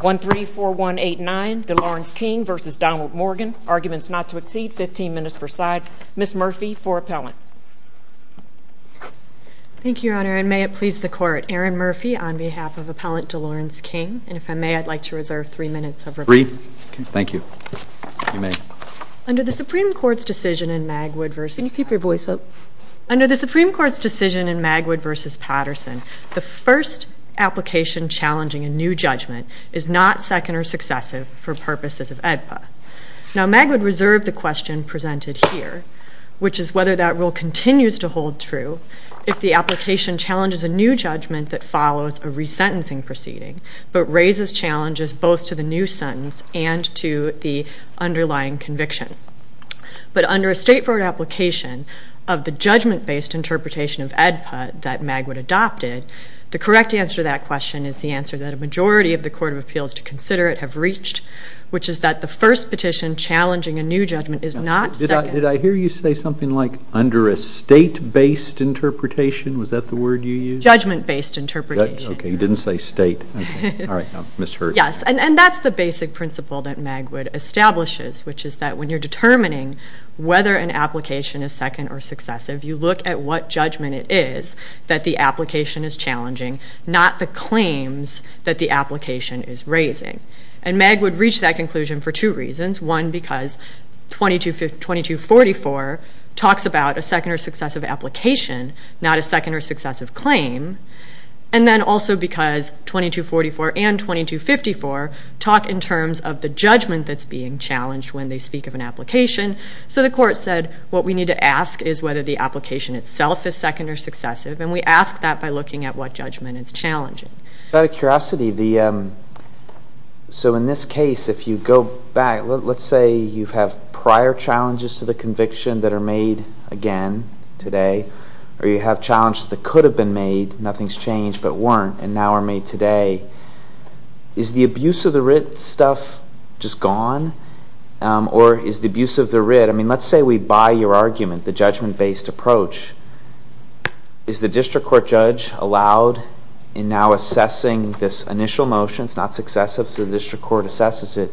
134189 DeLawrence King v. Donald Morgan. Arguments not to exceed 15 minutes per side. Ms. Murphy for appellant. Thank you, Your Honor. And may it please the Court. Erin Murphy on behalf of Appellant DeLawrence King. And if I may, I'd like to reserve three minutes of rebuttal. Three? Thank you. You may. Under the Supreme Court's decision in Magwood v. Can you keep your voice up? Under the Supreme Court's decision in Magwood v. Patterson, the first application challenging a new judgment is not second or successive for purposes of AEDPA. Now, Magwood reserved the question presented here, which is whether that rule continues to hold true if the application challenges a new judgment that follows a resentencing proceeding, but raises challenges both to the new sentence and to the underlying conviction. But under a straightforward application of the judgment-based interpretation of AEDPA that Magwood adopted, the correct answer to that question is the answer that a majority of the Court of Appeals to consider it have reached, which is that the first petition challenging a new judgment is not second. Did I hear you say something like under a state-based interpretation? Was that the word you used? Judgment-based interpretation. You didn't say state. All right. I misheard. Yes. And that's the basic principle that Magwood establishes, which is that when you're determining whether an application is second or successive, you look at what judgment it is that the application is challenging, not the claims that the application is raising. And Magwood reached that conclusion for two reasons. One, because 2244 talks about a second or successive application, not a second or successive claim. And then also because 2244 and 2254 talk in terms of the judgment that's being challenged when they speak of an application. So the Court said what we need to ask is whether the application itself is second or successive, and we ask that by looking at what judgment it's challenging. Out of curiosity, so in this case, if you go back, let's say you have prior challenges to the conviction that are made again today, or you have challenges that could have been made, nothing's changed, but weren't, and now are made today. Is the abuse of the writ stuff just gone? Or is the abuse of the writ... I mean, let's say we buy your argument, the judgment-based approach. Is the district court judge allowed in now assessing this initial motion? It's not successive, so the district court assesses it.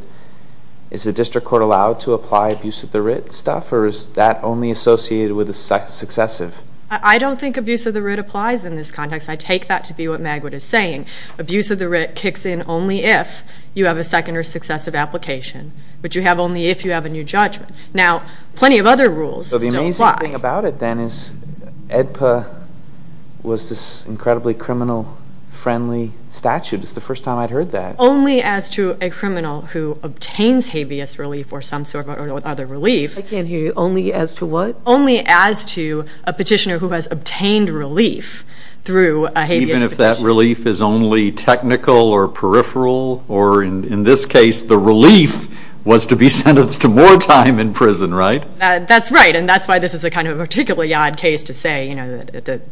Is the district court allowed to apply abuse of the writ stuff, or is that only associated with the successive? I don't think abuse of the writ applies in this context. I take that to be what Magwood is saying. Abuse of the writ kicks in only if you have a second or successive application, but you have only if you have a new judgment. Now, plenty of other rules still apply. So the amazing thing about it, then, is AEDPA was this incredibly criminal-friendly statute. It's the first time I'd heard that. Only as to a criminal who obtains habeas relief or some sort of other relief... I can't hear you. Only as to what? Only as to a petitioner who has obtained relief through a habeas petition. Even if that relief is only technical or peripheral, or in this case, the relief was to be sentenced to more time in prison, right? That's right. And that's why this is a particularly odd case to say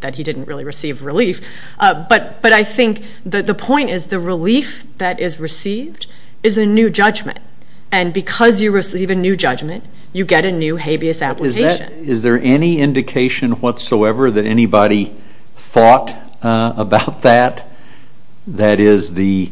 that he didn't really receive relief. But I think the point is the relief that is received is a new judgment. And because you receive a new judgment, you get a new habeas application. Is there any indication whatsoever that anybody thought about that? That is, the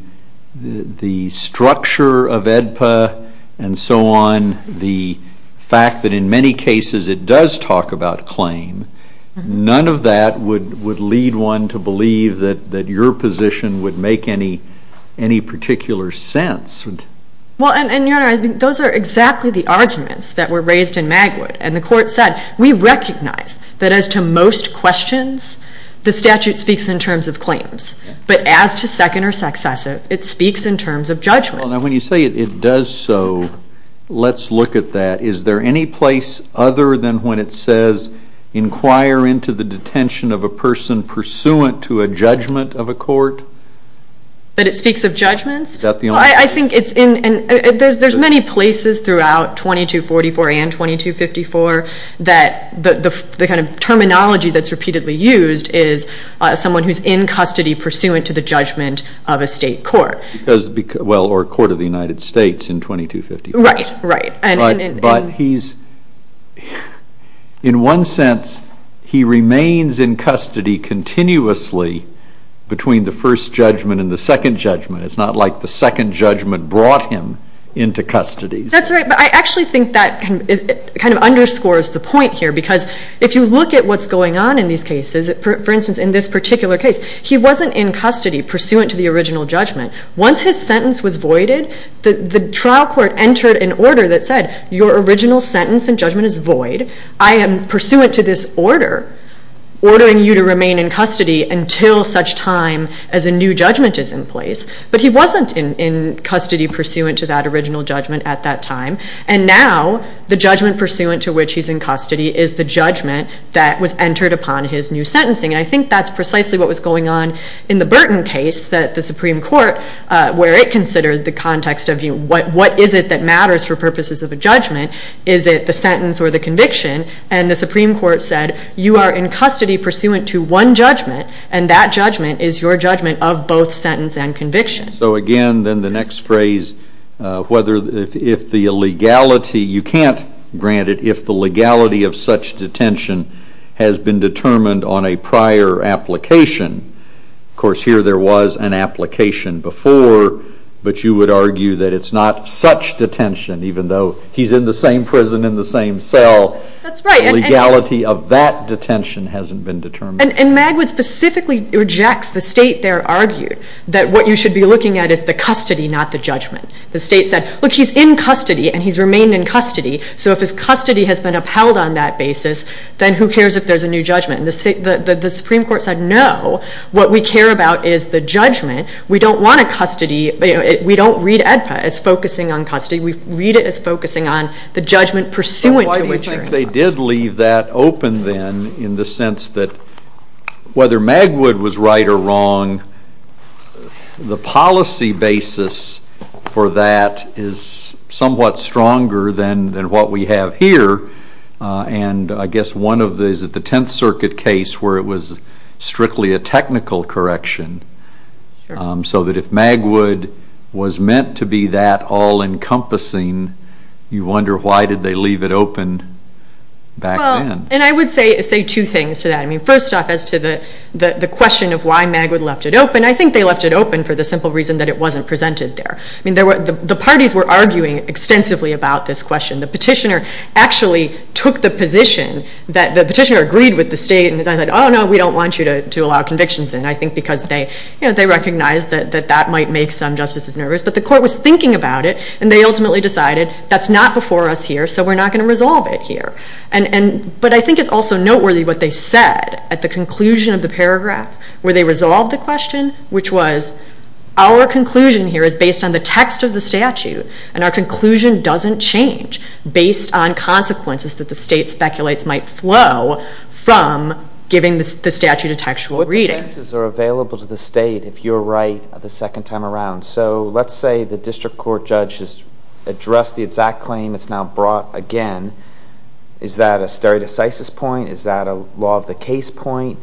structure of AEDPA and so on, the fact that in many cases it does talk about claim, none of that would lead one to believe that your position would make any particular sense. Well, and, Your Honor, those are exactly the arguments that were raised in Magwood. And the Court said, we recognize that as to most questions, the statute speaks in terms of claims. But as to second or successive, it speaks in terms of judgments. Well, now, when you say it does so, let's look at that. Is there any place other than when it says, inquire into the detention of a person pursuant to a judgment of a court? That it speaks of judgments? Well, I think it's in... There's many places throughout 2244 and 2254 that the kind of terminology that's repeatedly used is someone who's in custody pursuant to the judgment of a state court. Well, or a court of the United States in 2254. Right, right. But he's, in one sense, he remains in custody continuously between the first judgment and the second judgment. It's not like the second judgment brought him into custody. That's right. But I actually think that kind of underscores the point here because if you look at what's going on in these cases, for instance, in this particular case, he wasn't in custody pursuant to the original judgment. Once his sentence was voided, the trial court entered an order that said, your original sentence and judgment is void. I am pursuant to this order, ordering you to remain in custody until such time as a new judgment is in place. But he wasn't in custody pursuant to that original judgment at that time. And now, the judgment pursuant to which he's in custody is the judgment that was entered upon his new sentencing. And I think that's precisely what was going on in the Burton case that the Supreme Court, where it considered the context of, you know, what is it that matters for purposes of a judgment? Is it the sentence or the conviction? And the Supreme Court said, you are in custody pursuant to one judgment, and that judgment is your judgment of both sentence and conviction. So, again, then the next phrase, whether if the illegality, you can't grant it, if the legality of such detention has been determined on a prior application. Of course, here there was an application before, but you would argue that it's not such detention, even though he's in the same prison in the same cell. That's right. Legality of that detention hasn't been determined. And Magwood specifically rejects the state there argued that what you should be looking at is the custody, not the judgment. The state said, look, he's in custody, and he's remained in custody, so if his custody has been upheld on that basis, then who cares if there's a new judgment? And the Supreme Court said, no, what we care about is the judgment. We don't want a custody. We don't read AEDPA as focusing on custody. We read it as focusing on the judgment pursuant to which you're in custody. But why do you think they did leave that open then in the sense that whether Magwood was right or wrong, the policy basis for that is somewhat stronger than what we have here. And I guess one of these is the Tenth Circuit case where it was strictly a technical correction, so that if Magwood was meant to be that all-encompassing, you wonder why did they leave it open back then. Well, and I would say two things to that. I mean, first off, as to the question of why Magwood left it open, I think they left it open for the simple reason that it wasn't presented there. I mean, the parties were arguing extensively about this question. The petitioner actually took the position that the petitioner agreed with the state and decided, oh, no, we don't want you to allow convictions in. I think because they recognized that that might make some justices nervous. But the court was thinking about it, and they ultimately decided that's not before us here, so we're not going to resolve it here. But I think it's also noteworthy what they said at the conclusion of the paragraph where they resolved the question, which was our conclusion here is based on the text of the statute, and our conclusion doesn't change based on consequences that the state speculates might flow from giving the statute a textual reading. What defenses are available to the state if you're right the second time around? So let's say the district court judge has addressed the exact claim. It's now brought again. Is that a stare decisis point? Is that a law of the case point?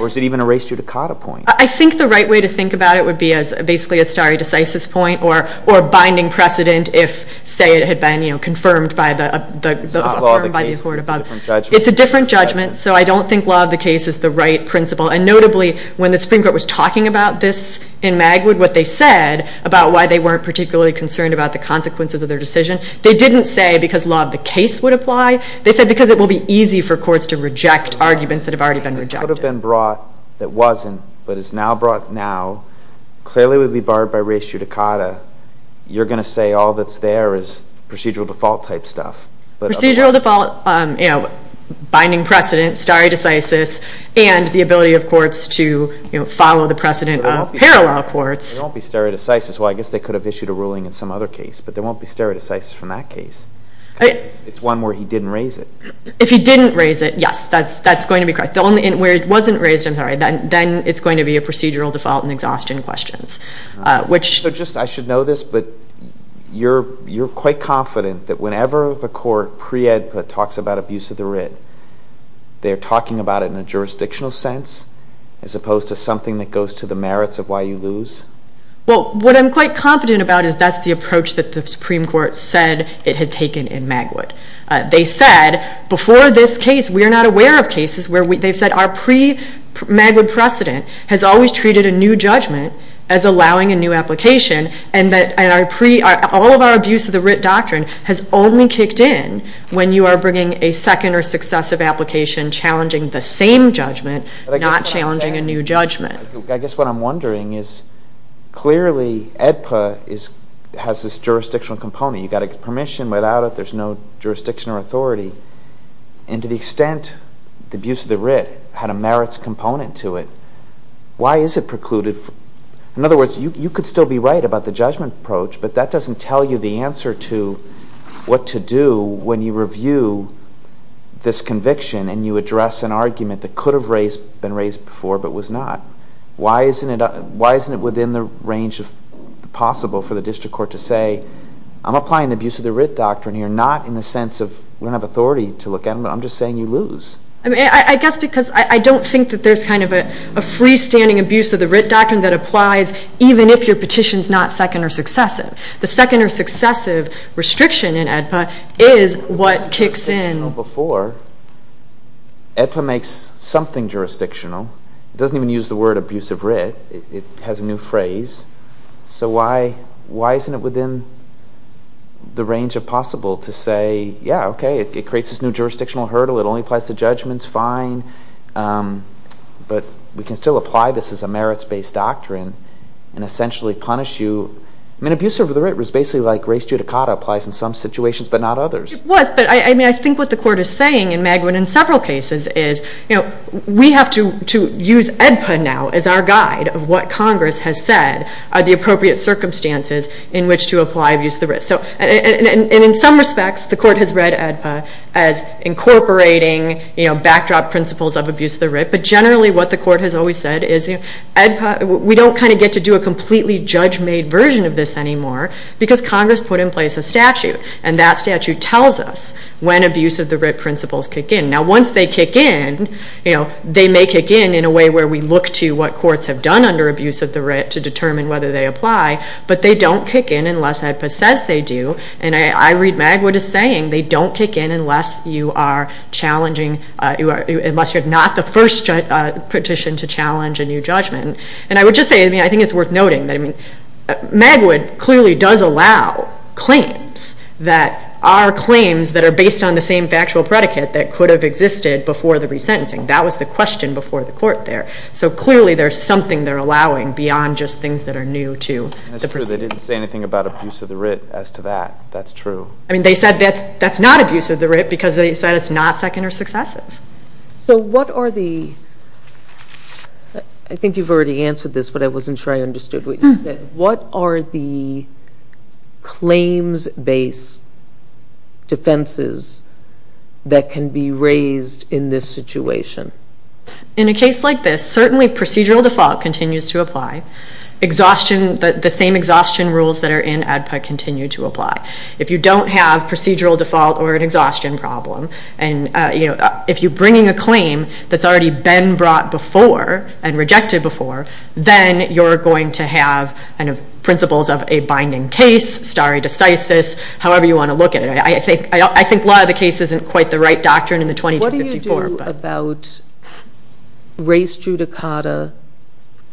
Or is it even a res judicata point? I think the right way to think about it would be as basically a stare decisis point or binding precedent if, say, it had been confirmed by the court above. It's a different judgment, so I don't think law of the case is the right principle. And notably, when the Supreme Court was talking about this in Magwood, what they said about why they weren't particularly concerned about the consequences of their decision, they didn't say because law of the case would apply. They said because it will be easy for courts to reject arguments that have already been rejected. It could have been brought that wasn't, but is now brought now, clearly would be barred by res judicata. You're going to say all that's there is procedural default type stuff. Procedural default, binding precedent, stare decisis, and the ability of courts to follow the precedent of parallel courts. There won't be stare decisis. Well, I guess they could have issued a ruling in some other case, but there won't be stare decisis from that case. It's one where he didn't raise it. If he didn't raise it, yes, that's going to be correct. Where it wasn't raised, I'm sorry, then it's going to be a procedural default and exhaustion questions. I should know this, but you're quite confident that whenever the court pre-ed put talks about abuse of the writ, they're talking about it in a jurisdictional sense as opposed to something that goes to the merits of why you lose? Well, what I'm quite confident about is that's the approach that the Supreme Court said it had taken in Magwood. They said, before this case, we are not aware of cases where they've said our pre-Magwood precedent has always treated a new judgment as allowing a new application and all of our abuse of the writ doctrine has only kicked in when you are bringing a second or successive application challenging the same judgment, not challenging a new judgment. I guess what I'm wondering is clearly EDPA has this jurisdictional component. You've got to get permission. Without it, there's no jurisdiction or authority. And to the extent the abuse of the writ had a merits component to it, why is it precluded? In other words, you could still be right about the judgment approach, but that doesn't tell you the answer to what to do when you review this conviction and you address an argument that could have been raised before but was not. Why isn't it within the range of possible for the district court to say, I'm applying the abuse of the writ doctrine here, not in the sense of, we don't have authority to look at them, but I'm just saying you lose. I guess because I don't think that there's kind of a freestanding abuse of the writ doctrine that applies even if your petition is not second or successive. The second or successive restriction in EDPA is what kicks in. EDPA makes something jurisdictional. It doesn't even use the word abuse of writ. It has a new phrase. So why isn't it within the range of possible to say, yeah, okay, it creates this new jurisdictional hurdle. It only applies to judgments. Fine. But we can still apply this as a merits-based doctrine and essentially punish you. I mean, abuse of the writ was basically like race judicata applies in some situations but not others. It was, but I mean, I think what the Court is saying in Magwin in several cases is we have to use EDPA now as our guide of what Congress has said are the appropriate circumstances in which to apply abuse of the writ. And in some respects, the Court has read EDPA as incorporating backdrop principles of abuse of the writ, but generally what the Court has always said is EDPA, we don't kind of get to do a completely judge-made version of this anymore because Congress put in place a statute and that statute tells us when abuse of the writ principles kick in. Now once they kick in, they may kick in in a way where we look to what courts have done under abuse of the writ to determine whether they apply, but they don't kick in unless EDPA says they do. And I read Magwin as saying they don't kick in unless you are challenging, unless you're not the first petition to challenge a new judgment. And I would just say, I mean, I think it's worth noting that Magwin clearly does allow claims that are claims that are based on the same factual predicate that could have existed before the resentencing. That was the question before the Court there. So clearly there's something they're allowing beyond just things that are new to the proceeding. That's true. They didn't say anything about abuse of the writ as to that. That's true. I mean, they said that's not abuse of the writ because they said it's not second or successive. So what are the I think you've already answered this, but I wasn't sure I understood what you said. What are the claims-based defenses that can be raised in this situation? In a case like this, certainly procedural default continues to apply. Exhaustion, the same exhaustion rules that are in ADPA continue to apply. If you don't have procedural default or an exhaustion problem, if you're bringing a claim that's already been brought before and rejected before, then you're going to have principles of a binding case, stare decisis, however you want to look at it. I think law of the case isn't quite the right doctrine in the 2254. What do you do about race judicata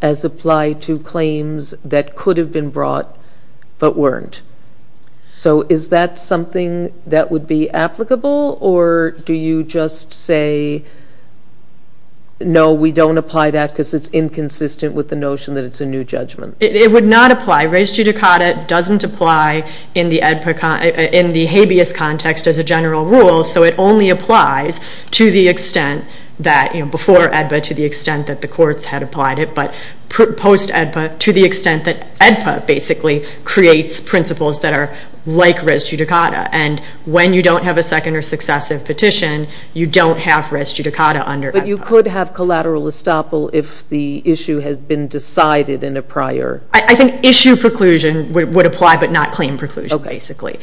as applied to claims that could have been brought but weren't? So is that something that would be applicable or do you just say no, we don't apply that because it's inconsistent with the notion that it's a new judgment? It would not apply. Race judicata doesn't apply in the habeas context as a general rule, so it only applies to the extent that before ADPA to the extent that the courts had applied it, but post-ADPA to the extent that ADPA basically creates principles that are like race judicata and when you don't have a second or successive petition, you don't have race judicata under ADPA. But you could have collateral estoppel if the issue has been decided in a prior... I think issue preclusion would apply but not claim preclusion basically.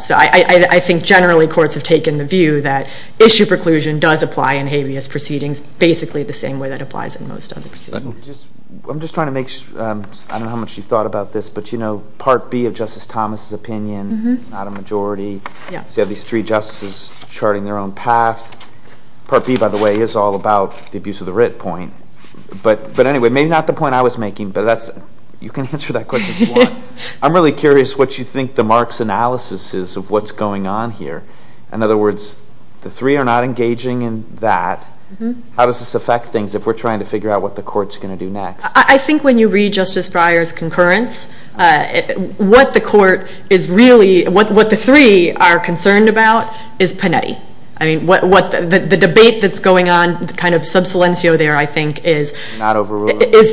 So I think generally courts have taken the view that issue preclusion does apply in habeas proceedings basically the same way that applies in most other proceedings. I'm just trying to make sure, I don't know how much you thought about this but you know Part B of Justice Thomas's opinion, not a majority, so you have these three justices charting their own path. Part B by the way is all about the abuse of the writ point. But anyway, maybe not the point I was making, but that's... you can answer that question if you want. I'm really curious what you think the marks analysis is of what's going on here. In other words, the three are not engaging in that. How does this affect things if we're trying to figure out what the court's going to do next? I think when you read Justice Breyer's concurrence what the court is really... what the three are concerned about is Panetti. I mean, the debate that's going on, kind of sub silencio there I think is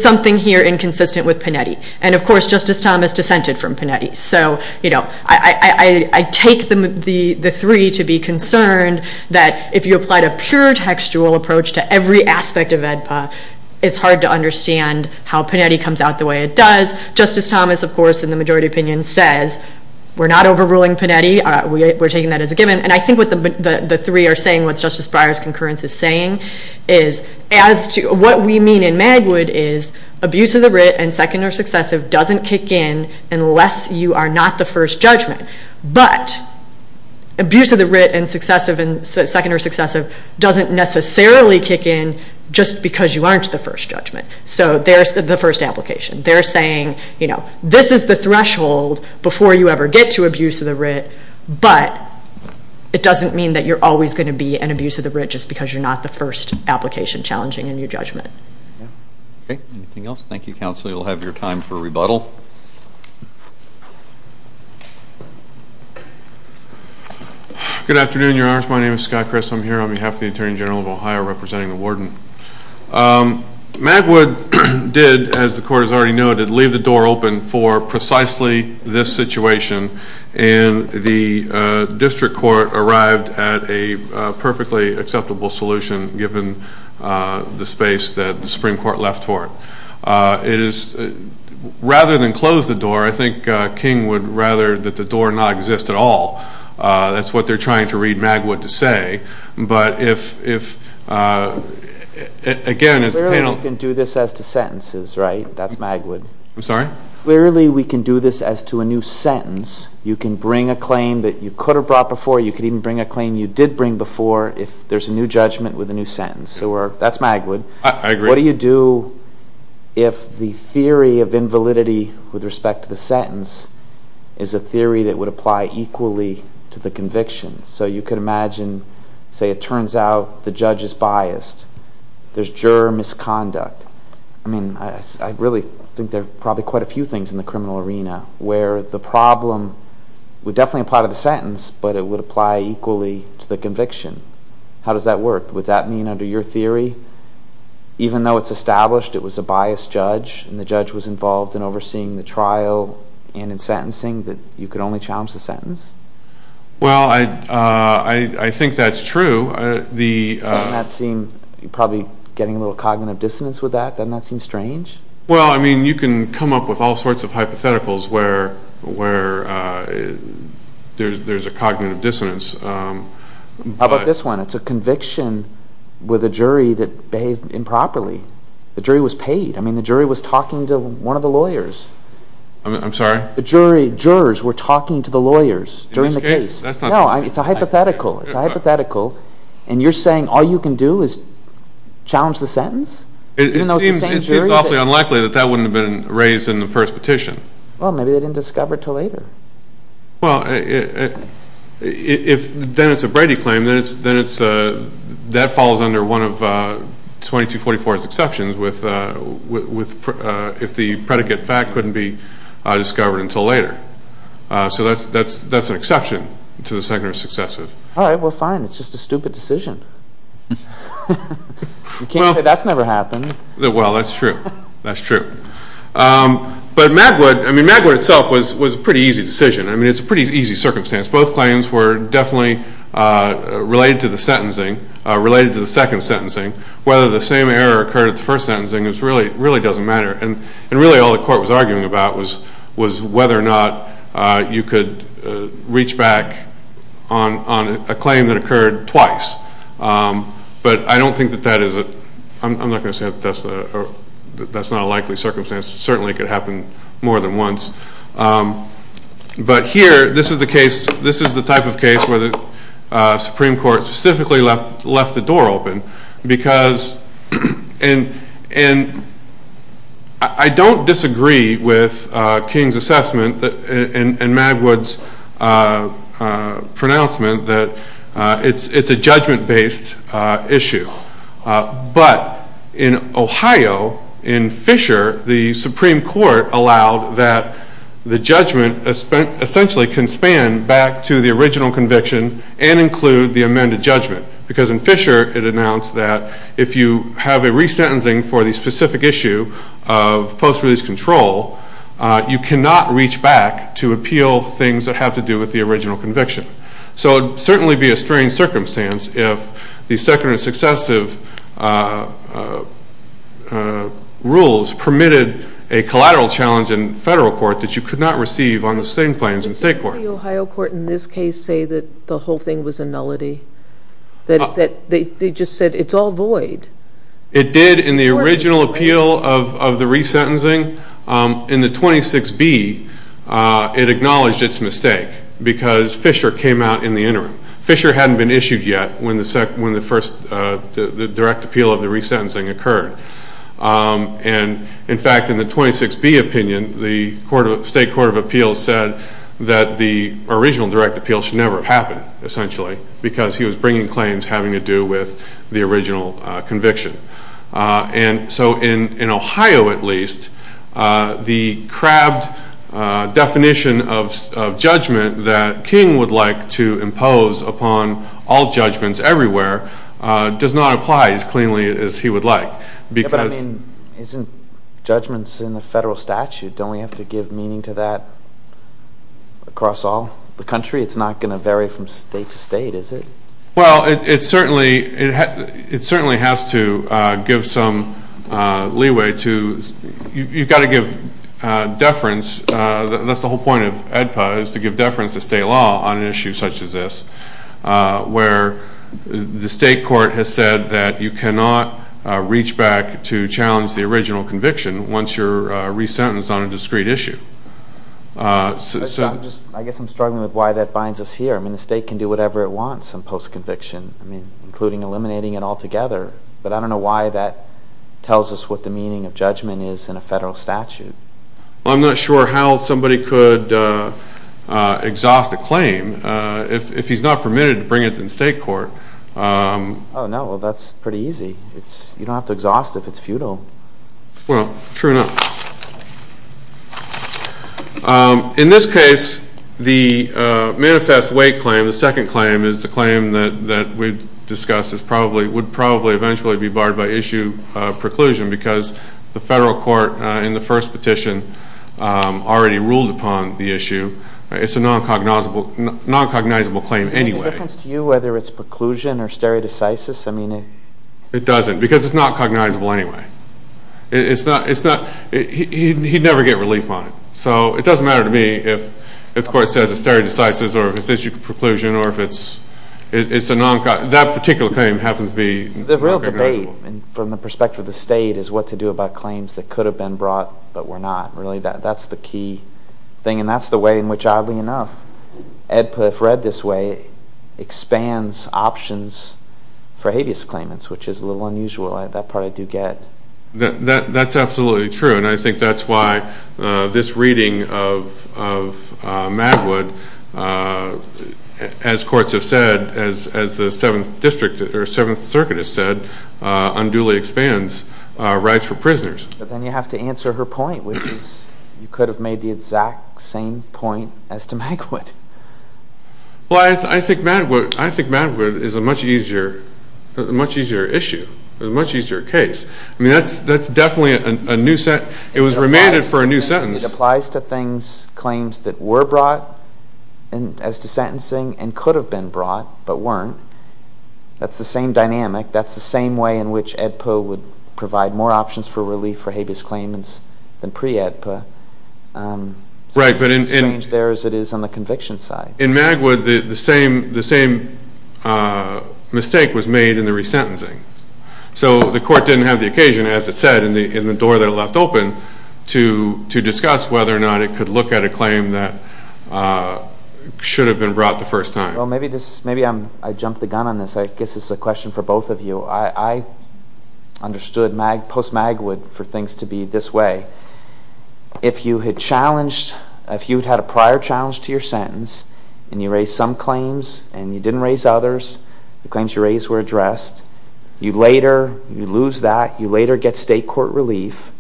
something here inconsistent with Panetti. And of course Justice Thomas dissented from Panetti. So, you know, I take the three to be concerned that if you applied a pure textual approach to every aspect of AEDPA, it's hard to understand how Panetti comes out the way it does. Justice Thomas of course in the majority opinion says we're not overruling Panetti, we're taking that as a given. And I think what the three are saying, what Justice Breyer's concurrence is saying, is as to what we mean in Magwood is abuse of the writ and second or successive doesn't kick in unless you are not the first judgment. But, abuse of the writ and second or successive doesn't necessarily kick in just because you aren't the first judgment. So there's the first application. They're saying, you know, this is the threshold before you ever get to abuse of the writ, but it doesn't mean that you're always going to be an abuse of the writ just because you're not the first application challenging in your judgment. Okay, anything else? Thank you, Counsel. You'll have your time for rebuttal. Good afternoon, Your Honors. My name is Scott Chris. I'm here on behalf of the Attorney General of Ohio representing the Warden. Magwood did, as the Court has already noted, leave the door open for precisely this situation and the District Court arrived at a perfectly acceptable solution given the space that the Supreme Court left for it. It is, rather than close the door, I think King would rather that the door not exist at all. That's what they're trying to read Magwood to say, but again, as the panel can do this as to sentences, right? That's Magwood. I'm sorry? Rarely we can do this as to a new sentence. You can bring a claim that you could have brought before. You can even bring a claim you did bring before if there's a new judgment with a new sentence. That's Magwood. I agree. What do you do if the theory of invalidity with respect to the sentence is a theory that would apply equally to the conviction? You could imagine, say it turns out the judge is biased. There's juror misconduct. I mean, I really think there are probably quite a few things in the criminal arena where the problem would definitely apply to the sentence, but it would apply equally to the conviction. How does that work? Would that mean under your theory even though it's established it was a biased judge and the judge was involved in overseeing the trial and in sentencing that you could only challenge the sentence? Well, I think that's true. Doesn't that seem you're probably getting a little cognitive dissonance with that? Doesn't that seem strange? Well, I mean, you can come up with all sorts of hypotheticals where there's a cognitive dissonance. How about this one? It's a conviction with a jury that behaved improperly. The jury was paid. I mean, the jury was talking to one of the lawyers. I'm sorry? The jurors were talking to the lawyers during the case. In this case? No, it's a hypothetical. And you're saying all you can do is It seems awfully unlikely that that wouldn't have been raised in the first petition. Well, maybe they didn't discover it until later. Well, if then it's a Brady claim then it's that falls under one of 2244's exceptions if the predicate fact couldn't be discovered until later. So that's an exception to the secondary successive. All right, well, fine. It's just a stupid decision. You can't say that's never happened. Well, that's true. That's true. But Magwood, I mean, Magwood itself was a pretty easy decision. I mean, it's a pretty easy circumstance. Both claims were definitely related to the sentencing, related to the second sentencing. Whether the same error occurred at the first sentencing really doesn't matter. And really all the court was arguing about was whether or not you could reach back on a but I don't think that that is I'm not going to say that that's not a likely circumstance. It certainly could happen more than once. But here this is the case, this is the type of case where the Supreme Court specifically left the door open because and I don't disagree with King's assessment and Magwood's pronouncement that it's a judgment-based issue. But in Ohio in Fisher, the Supreme Court allowed that the judgment essentially can span back to the original conviction and include the amended judgment. Because in Fisher it announced that if you have a resentencing for the specific issue of post release control you cannot reach back to appeal things that have to do with the original conviction. So it would certainly be a strange circumstance if the second and successive rules permitted a collateral challenge in federal court that you could not receive on the same claims in state court. Didn't the Ohio court in this case say that the whole thing was a nullity? That they just said it's all void? It did in the original appeal of the resentencing in the 26B it acknowledged its mistake because Fisher came out in the interim. Fisher hadn't been issued yet when the first direct appeal of the resentencing occurred. And in fact in the 26B opinion the state court of appeals said that the original direct appeal should never have happened essentially because he was bringing claims having to do with the original conviction. And so in Ohio at least the crabbed definition of judgment that King would like to impose upon all judgments everywhere does not apply as cleanly as he would like. Isn't judgments in the federal statute, don't we have to give meaning to that across all the country? It's not going to vary from state to state is it? Well it certainly has to give some leeway to you've got to give deference, that's the whole point of AEDPA is to give deference to state law on an issue such as this where the state court has said that you cannot reach back to challenge the original conviction once you're resentenced on a discrete issue. I guess I'm struggling with why that binds us here. The state can do whatever it wants in post-conviction including eliminating it altogether, but I don't know why that is what the meaning of judgment is in a federal statute. I'm not sure how somebody could exhaust a claim if he's not permitted to bring it to the state court. Oh no, that's pretty easy. You don't have to exhaust if it's futile. Well, true enough. In this case, the manifest weight claim, the second claim is the claim that we discussed would probably eventually be barred by issue preclusion because the federal court in the first petition already ruled upon the issue. It's a non-cognizable claim anyway. Does it make a difference to you whether it's preclusion or stereodecisis? It doesn't because it's not cognizable anyway. He'd never get relief on it, so it doesn't matter to me if the court says it's stereodecisis or if it's issue preclusion or if it's a non-cognizable claim. The real debate from the perspective of the state is what to do about claims that could have been brought but were not. Really, that's the key thing and that's the way in which, oddly enough, EDPA, if read this way, expands options for habeas claimants which is a little unusual. That part I do get. That's absolutely true and I think that's why this reading of Magwood as courts have said as the 7th district or 7th circuit has said unduly expands rights for prisoners. But then you have to answer her point which is you could have made the exact same point as to Magwood. Well, I think Magwood is a much easier issue, a much easier case. I mean, that's definitely a new set. It was remanded for a new sentence. It applies to things, claims that were brought as to sentencing and could have been brought but weren't. That's the same dynamic. That's the same way in which EDPA would provide more options for relief for habeas claimants than pre-EDPA. It's as strange there as it is on the conviction side. In Magwood, the same mistake was made in the resentencing. So the court didn't have the occasion, as it said, in the door that it left open to discuss whether or not it could look at a claim that should have been brought the first time. Well, maybe I jumped the gun on this. I guess it's a question for both of you. I understood post-Magwood for things to be this way. If you had challenged, if you had a prior challenge to your sentence and you raised some claims and you didn't raise others, the claims you raised were addressed, you later lose that, you later get state court relief.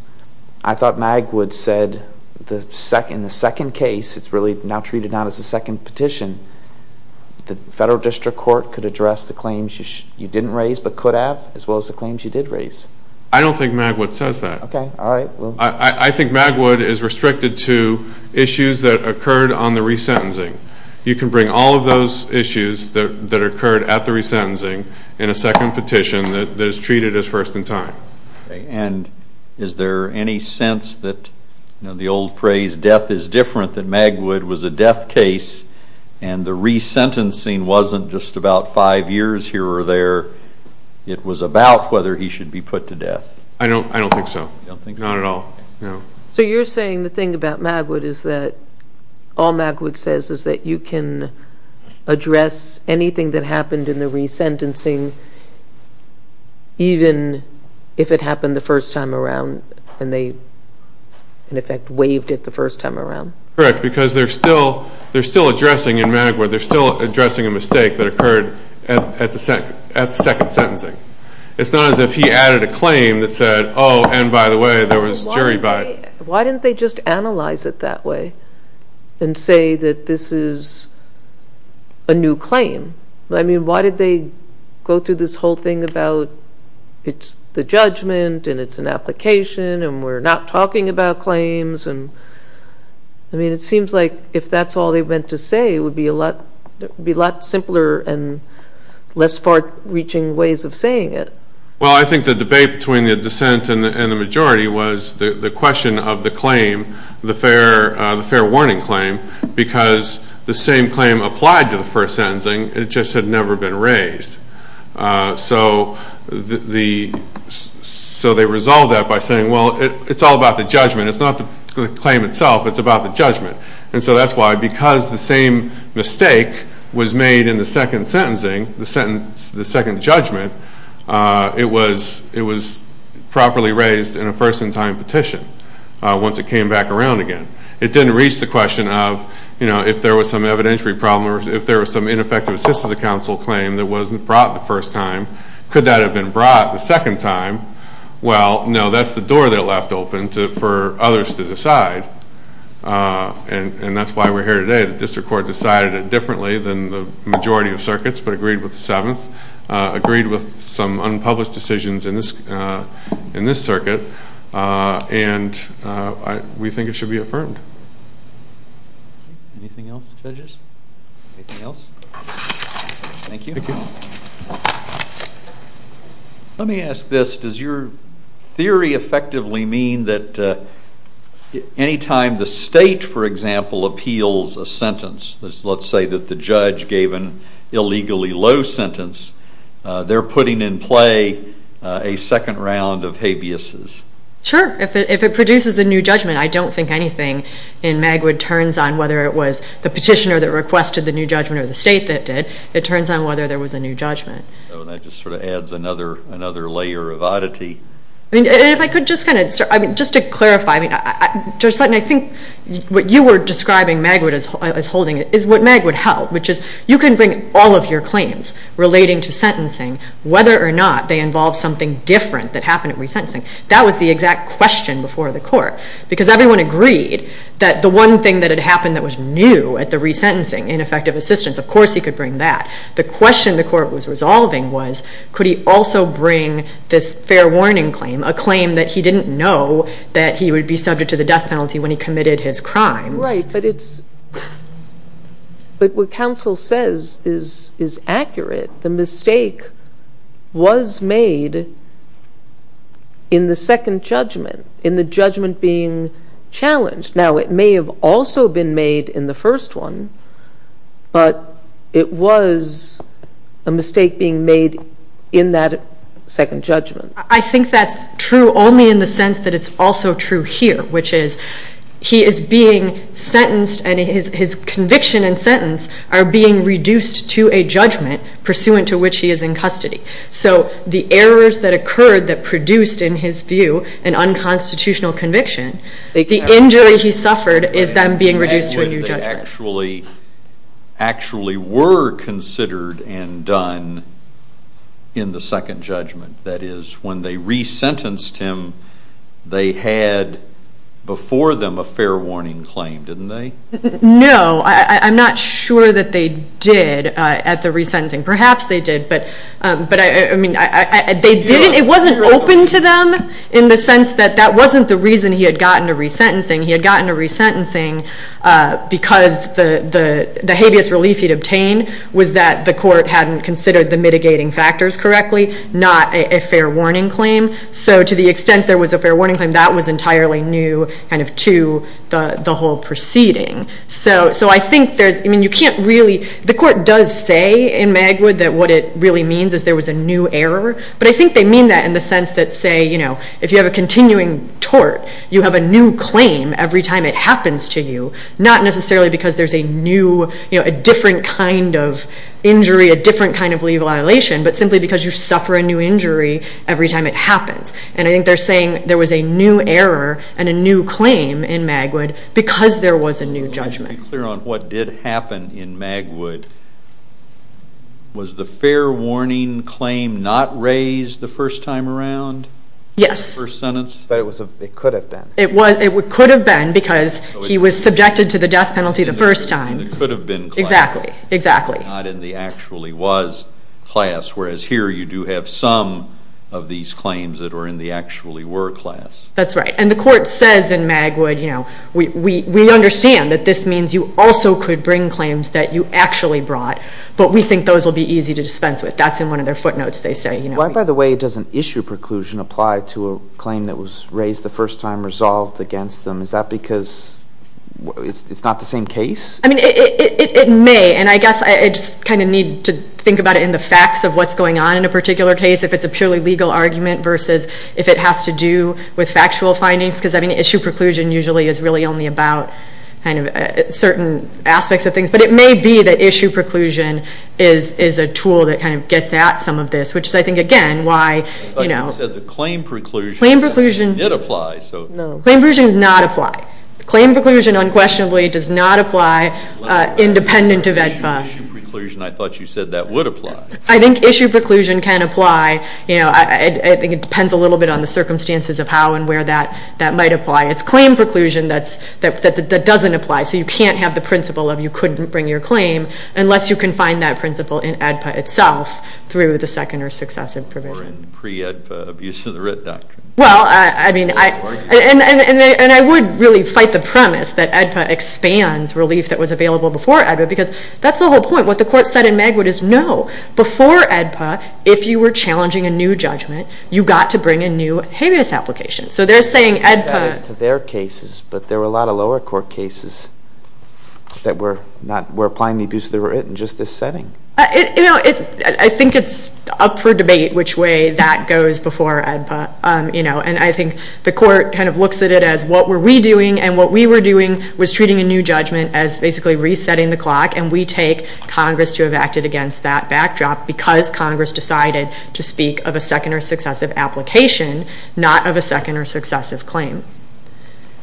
I thought Magwood said in the second petition that the federal district court could address the claims you didn't raise but could have as well as the claims you did raise. I don't think Magwood says that. I think Magwood is restricted to issues that occurred on the resentencing. You can bring all of those issues that occurred at the resentencing in a second petition that is treated as first in time. And is there any sense that the old phrase death is different than Magwood was a death case and the resentencing wasn't just about five years here or there. It was about whether he should be put to death. I don't think so. Not at all. So you're saying the thing about Magwood is that all Magwood says is that you can address anything that happened in the resentencing even if it happened the first time around and they in effect waived it the first time around. Correct. Because they're still addressing in Magwood, they're still addressing a mistake that occurred at the second sentencing. It's not as if he added a claim that said oh and by the way there was jury by. Why didn't they just analyze it that way and say that this is a new claim. Why did they go through this whole thing about it's the judgment and it's an application and we're not talking about claims and I mean it seems like if that's all they meant to say it would be a lot simpler and less far reaching ways of saying it. Well I think the debate between the dissent and the majority was the question of the claim, the fair warning claim because the same claim applied to the first sentencing, it just had never been raised. So the so they resolved that by saying well it's all about the judgment it's not the claim itself, it's about the judgment. And so that's why because the same mistake was made in the second sentencing, the second judgment, it was properly raised in a first in time petition once it came back around again. It didn't reach the question of if there was some evidentiary problem or if there was some ineffective assistance of counsel claim that wasn't brought the first time. Could that have been brought the second time? Well no that's the door they left open for others to decide and that's why we're here today. The district court decided it differently than the majority of circuits but agreed with the seventh, agreed with some unpublished decisions in this circuit and we think it should be affirmed. Anything else judges? Anything else? Thank you. Let me ask this, does your theory effectively mean that anytime the state for example appeals a sentence, let's say that the judge gave an illegally low sentence, they're putting in play a second round of habeas. Sure, if it produces a new judgment I don't think anything in Magwood turns on whether it was the petitioner that requested the new judgment or the state that did it turns on whether there was a new judgment. So that just sort of adds another layer of oddity? If I could just kind of, just to clarify Judge Sutton I think what you were describing Magwood as holding is what Magwood held which is you can bring all of your claims relating to sentencing whether or not they involve something different that happened at resentencing. That was the exact question before the court because everyone agreed that the one thing that happened that was new at the resentencing ineffective assistance, of course he could bring that. The question the court was resolving was could he also bring this fair warning claim, a claim that he didn't know that he would be subject to the death penalty when he committed his crimes. Right, but it's but what counsel says is accurate the mistake was made in the second judgment in the judgment being challenged. Now it may have also been made in the first one but it was a mistake being made in that second judgment. I think that's true only in the sense that it's also true here which is he is being sentenced and his conviction and sentence are being reduced to a judgment pursuant to which he is in custody. So the errors that occurred that produced in his view an unconstitutional conviction the injury he suffered is then being reduced to a new judgment. Actually were considered and done in the second judgment. That is when they resentenced him they had before them a fair warning claim, didn't they? No, I'm not sure that they did at the resentencing. Perhaps they did but I mean they didn't it wasn't open to them in the sense that that wasn't the reason he had gotten a resentencing. He had gotten a resentencing because the habeas relief he'd obtained was that the court hadn't considered the mitigating factors correctly not a fair warning claim. So to the extent there was a fair warning claim that was entirely new to the whole proceeding. So I think there's the court does say in Magwood that what it really means is there was a new error. But I think they mean that in the sense that say if you have a continuing tort you have a new claim every time it happens to you. Not necessarily because there's a new, a different kind of injury, a different kind of legal violation but simply because you suffer a new injury every time it happens. And I think they're saying there was a new error and a new claim in Magwood because there was a new judgment. Why don't you be clear on what did happen in Magwood? Was the fair warning claim not raised the first time around? Yes. But it could have been. It could have been because he was subjected to the death penalty the first time. It could have been. Exactly. Not in the actually was class. Whereas here you do have some of these claims that are in the actually were class. That's right. And the court says in Magwood, you know, we understand that this means you also could bring claims that you actually brought but we think those will be easy to dispense with. That's in one of their footnotes, they say. Why, by the way, doesn't issue preclusion apply to a claim that was raised the first time resolved against them? Is that because it's not the same case? I mean, it may. And I guess I just kind of need to think about it in the facts of what's going on in a particular case. If it's a purely legal argument versus if it has to do with factual findings. Because, I mean, issue preclusion usually is really only about certain aspects of things. But it may be that issue preclusion is a tool that kind of gets at some of this. Which is, I think, again, why claim preclusion did apply. Claim preclusion does not apply. Claim preclusion unquestionably does not apply independent of EDPA. I thought you said that would apply. I think issue preclusion can apply. I think it depends a little bit on the circumstances of how and where that might apply. It's claim does apply. So you can't have the principle of you couldn't bring your claim unless you can find that principle in EDPA itself through the second or successive provision. Or in pre-EDPA abuse of the writ doctrine. Well, I mean, and I would really fight the premise that EDPA expands relief that was available before EDPA because that's the whole point. What the court said in Magwood is no. Before EDPA, if you were challenging a new judgment, you got to bring a new habeas application. So they're saying EDPA... to their cases, but there were a lot of lower court cases that were applying the abuse of the writ in just this setting. I think it's up for debate which way that goes before EDPA. And I think the court kind of looks at it as what were we doing and what we were doing was treating a new judgment as basically resetting the clock and we take Congress to have acted against that backdrop because Congress decided to speak of a second or successive application, not of a second or successive claim.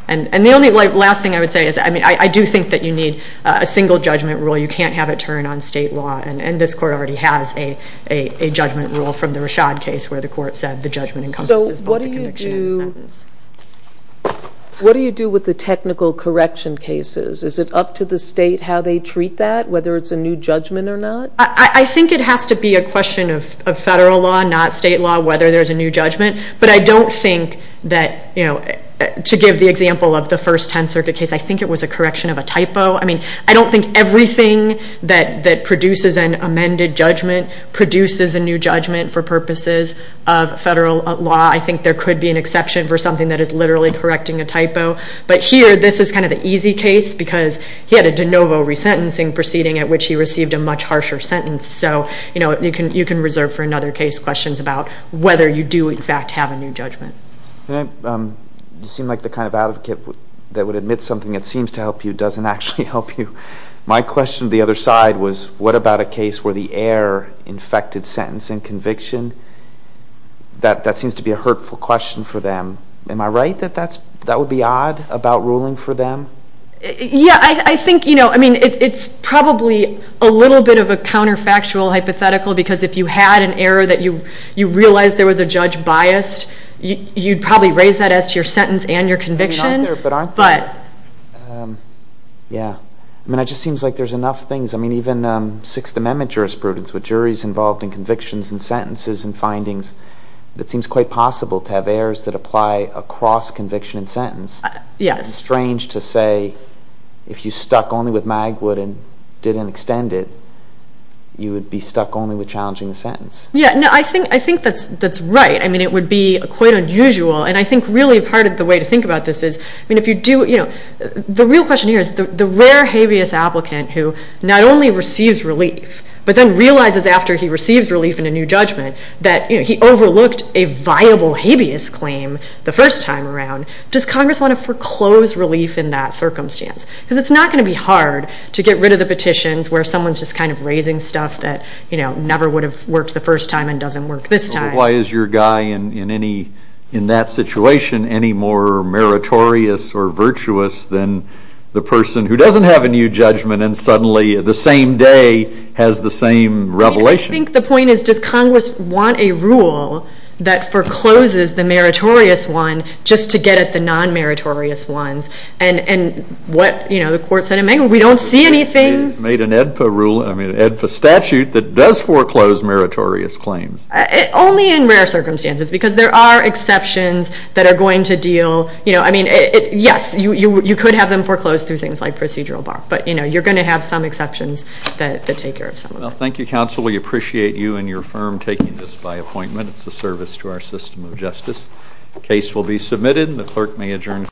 And the only last thing I would say is I do think that you need a single judgment rule. You can't have it turn on state law. And this court already has a judgment rule from the Rashad case where the court said the judgment encompasses both the conviction and the sentence. So what do you do with the technical correction cases? Is it up to the state how they treat that, whether it's a new judgment or not? I think it has to be a question of federal law, not state law, whether there's a new judgment. But I don't think that, you know, to give the example of the First Tenth Circuit case, I think it was a correction of a typo. I mean, I don't think everything that produces an amended judgment produces a new judgment for purposes of federal law. I think there could be an exception for something that is literally correcting a typo. But here this is kind of the easy case because he had a de novo resentencing proceeding at which he received a much harsher sentence. So, you know, you can reserve for another case questions about whether you do, in fact, have a new judgment. You seem like the kind of advocate that would admit something that seems to help you doesn't actually help you. My question to the other side was what about a case where the heir infected sentencing conviction? That seems to be a hurtful question for them. Am I right that that would be odd about ruling for them? Yeah, I think, you know, I mean, it's probably a little bit of a counterfactual hypothetical because if you had an heir that you realized there was a judge biased, you'd probably raise that as to your sentence and your conviction. But aren't they? Yeah. I mean, it just seems like there's enough things. I mean, even Sixth Amendment jurisprudence with juries involved in convictions and sentences and findings it seems quite possible to have heirs that apply across conviction and sentence. It's strange to say if you stuck only with Magwood and didn't extend it, you would be stuck only with challenging the sentence. Yeah. I think that's right. I mean, it would be quite unusual and I think really part of the way to think about this is the real question here is the rare habeas applicant who not only receives relief but then realizes after he receives relief in a new judgment that he overlooked a viable habeas claim the first time around. Does Congress want to foreclose relief in that circumstance? Because it's not going to be hard to get rid of the petitions where someone's just kind of raising stuff that never would have worked the first time and doesn't work this time. Why is your guy in that situation any more meritorious or virtuous than the person who doesn't have a new judgment and suddenly the same day has the same revelation? I think the point is does Congress want a rule that forecloses the meritorious one just to get at the non-meritorious ones? And what the court said in May, we don't see anything. It's made an EDPA statute that does foreclose meritorious claims. Only in rare circumstances because there are exceptions that are going to deal, I mean, yes you could have them foreclosed through things like procedural bar but you're going to have some exceptions that take care of some of them. Well, thank you counsel. We appreciate you and your firm taking this by appointment. It's a service to our system of justice. Case will be submitted. The clerk may adjourn.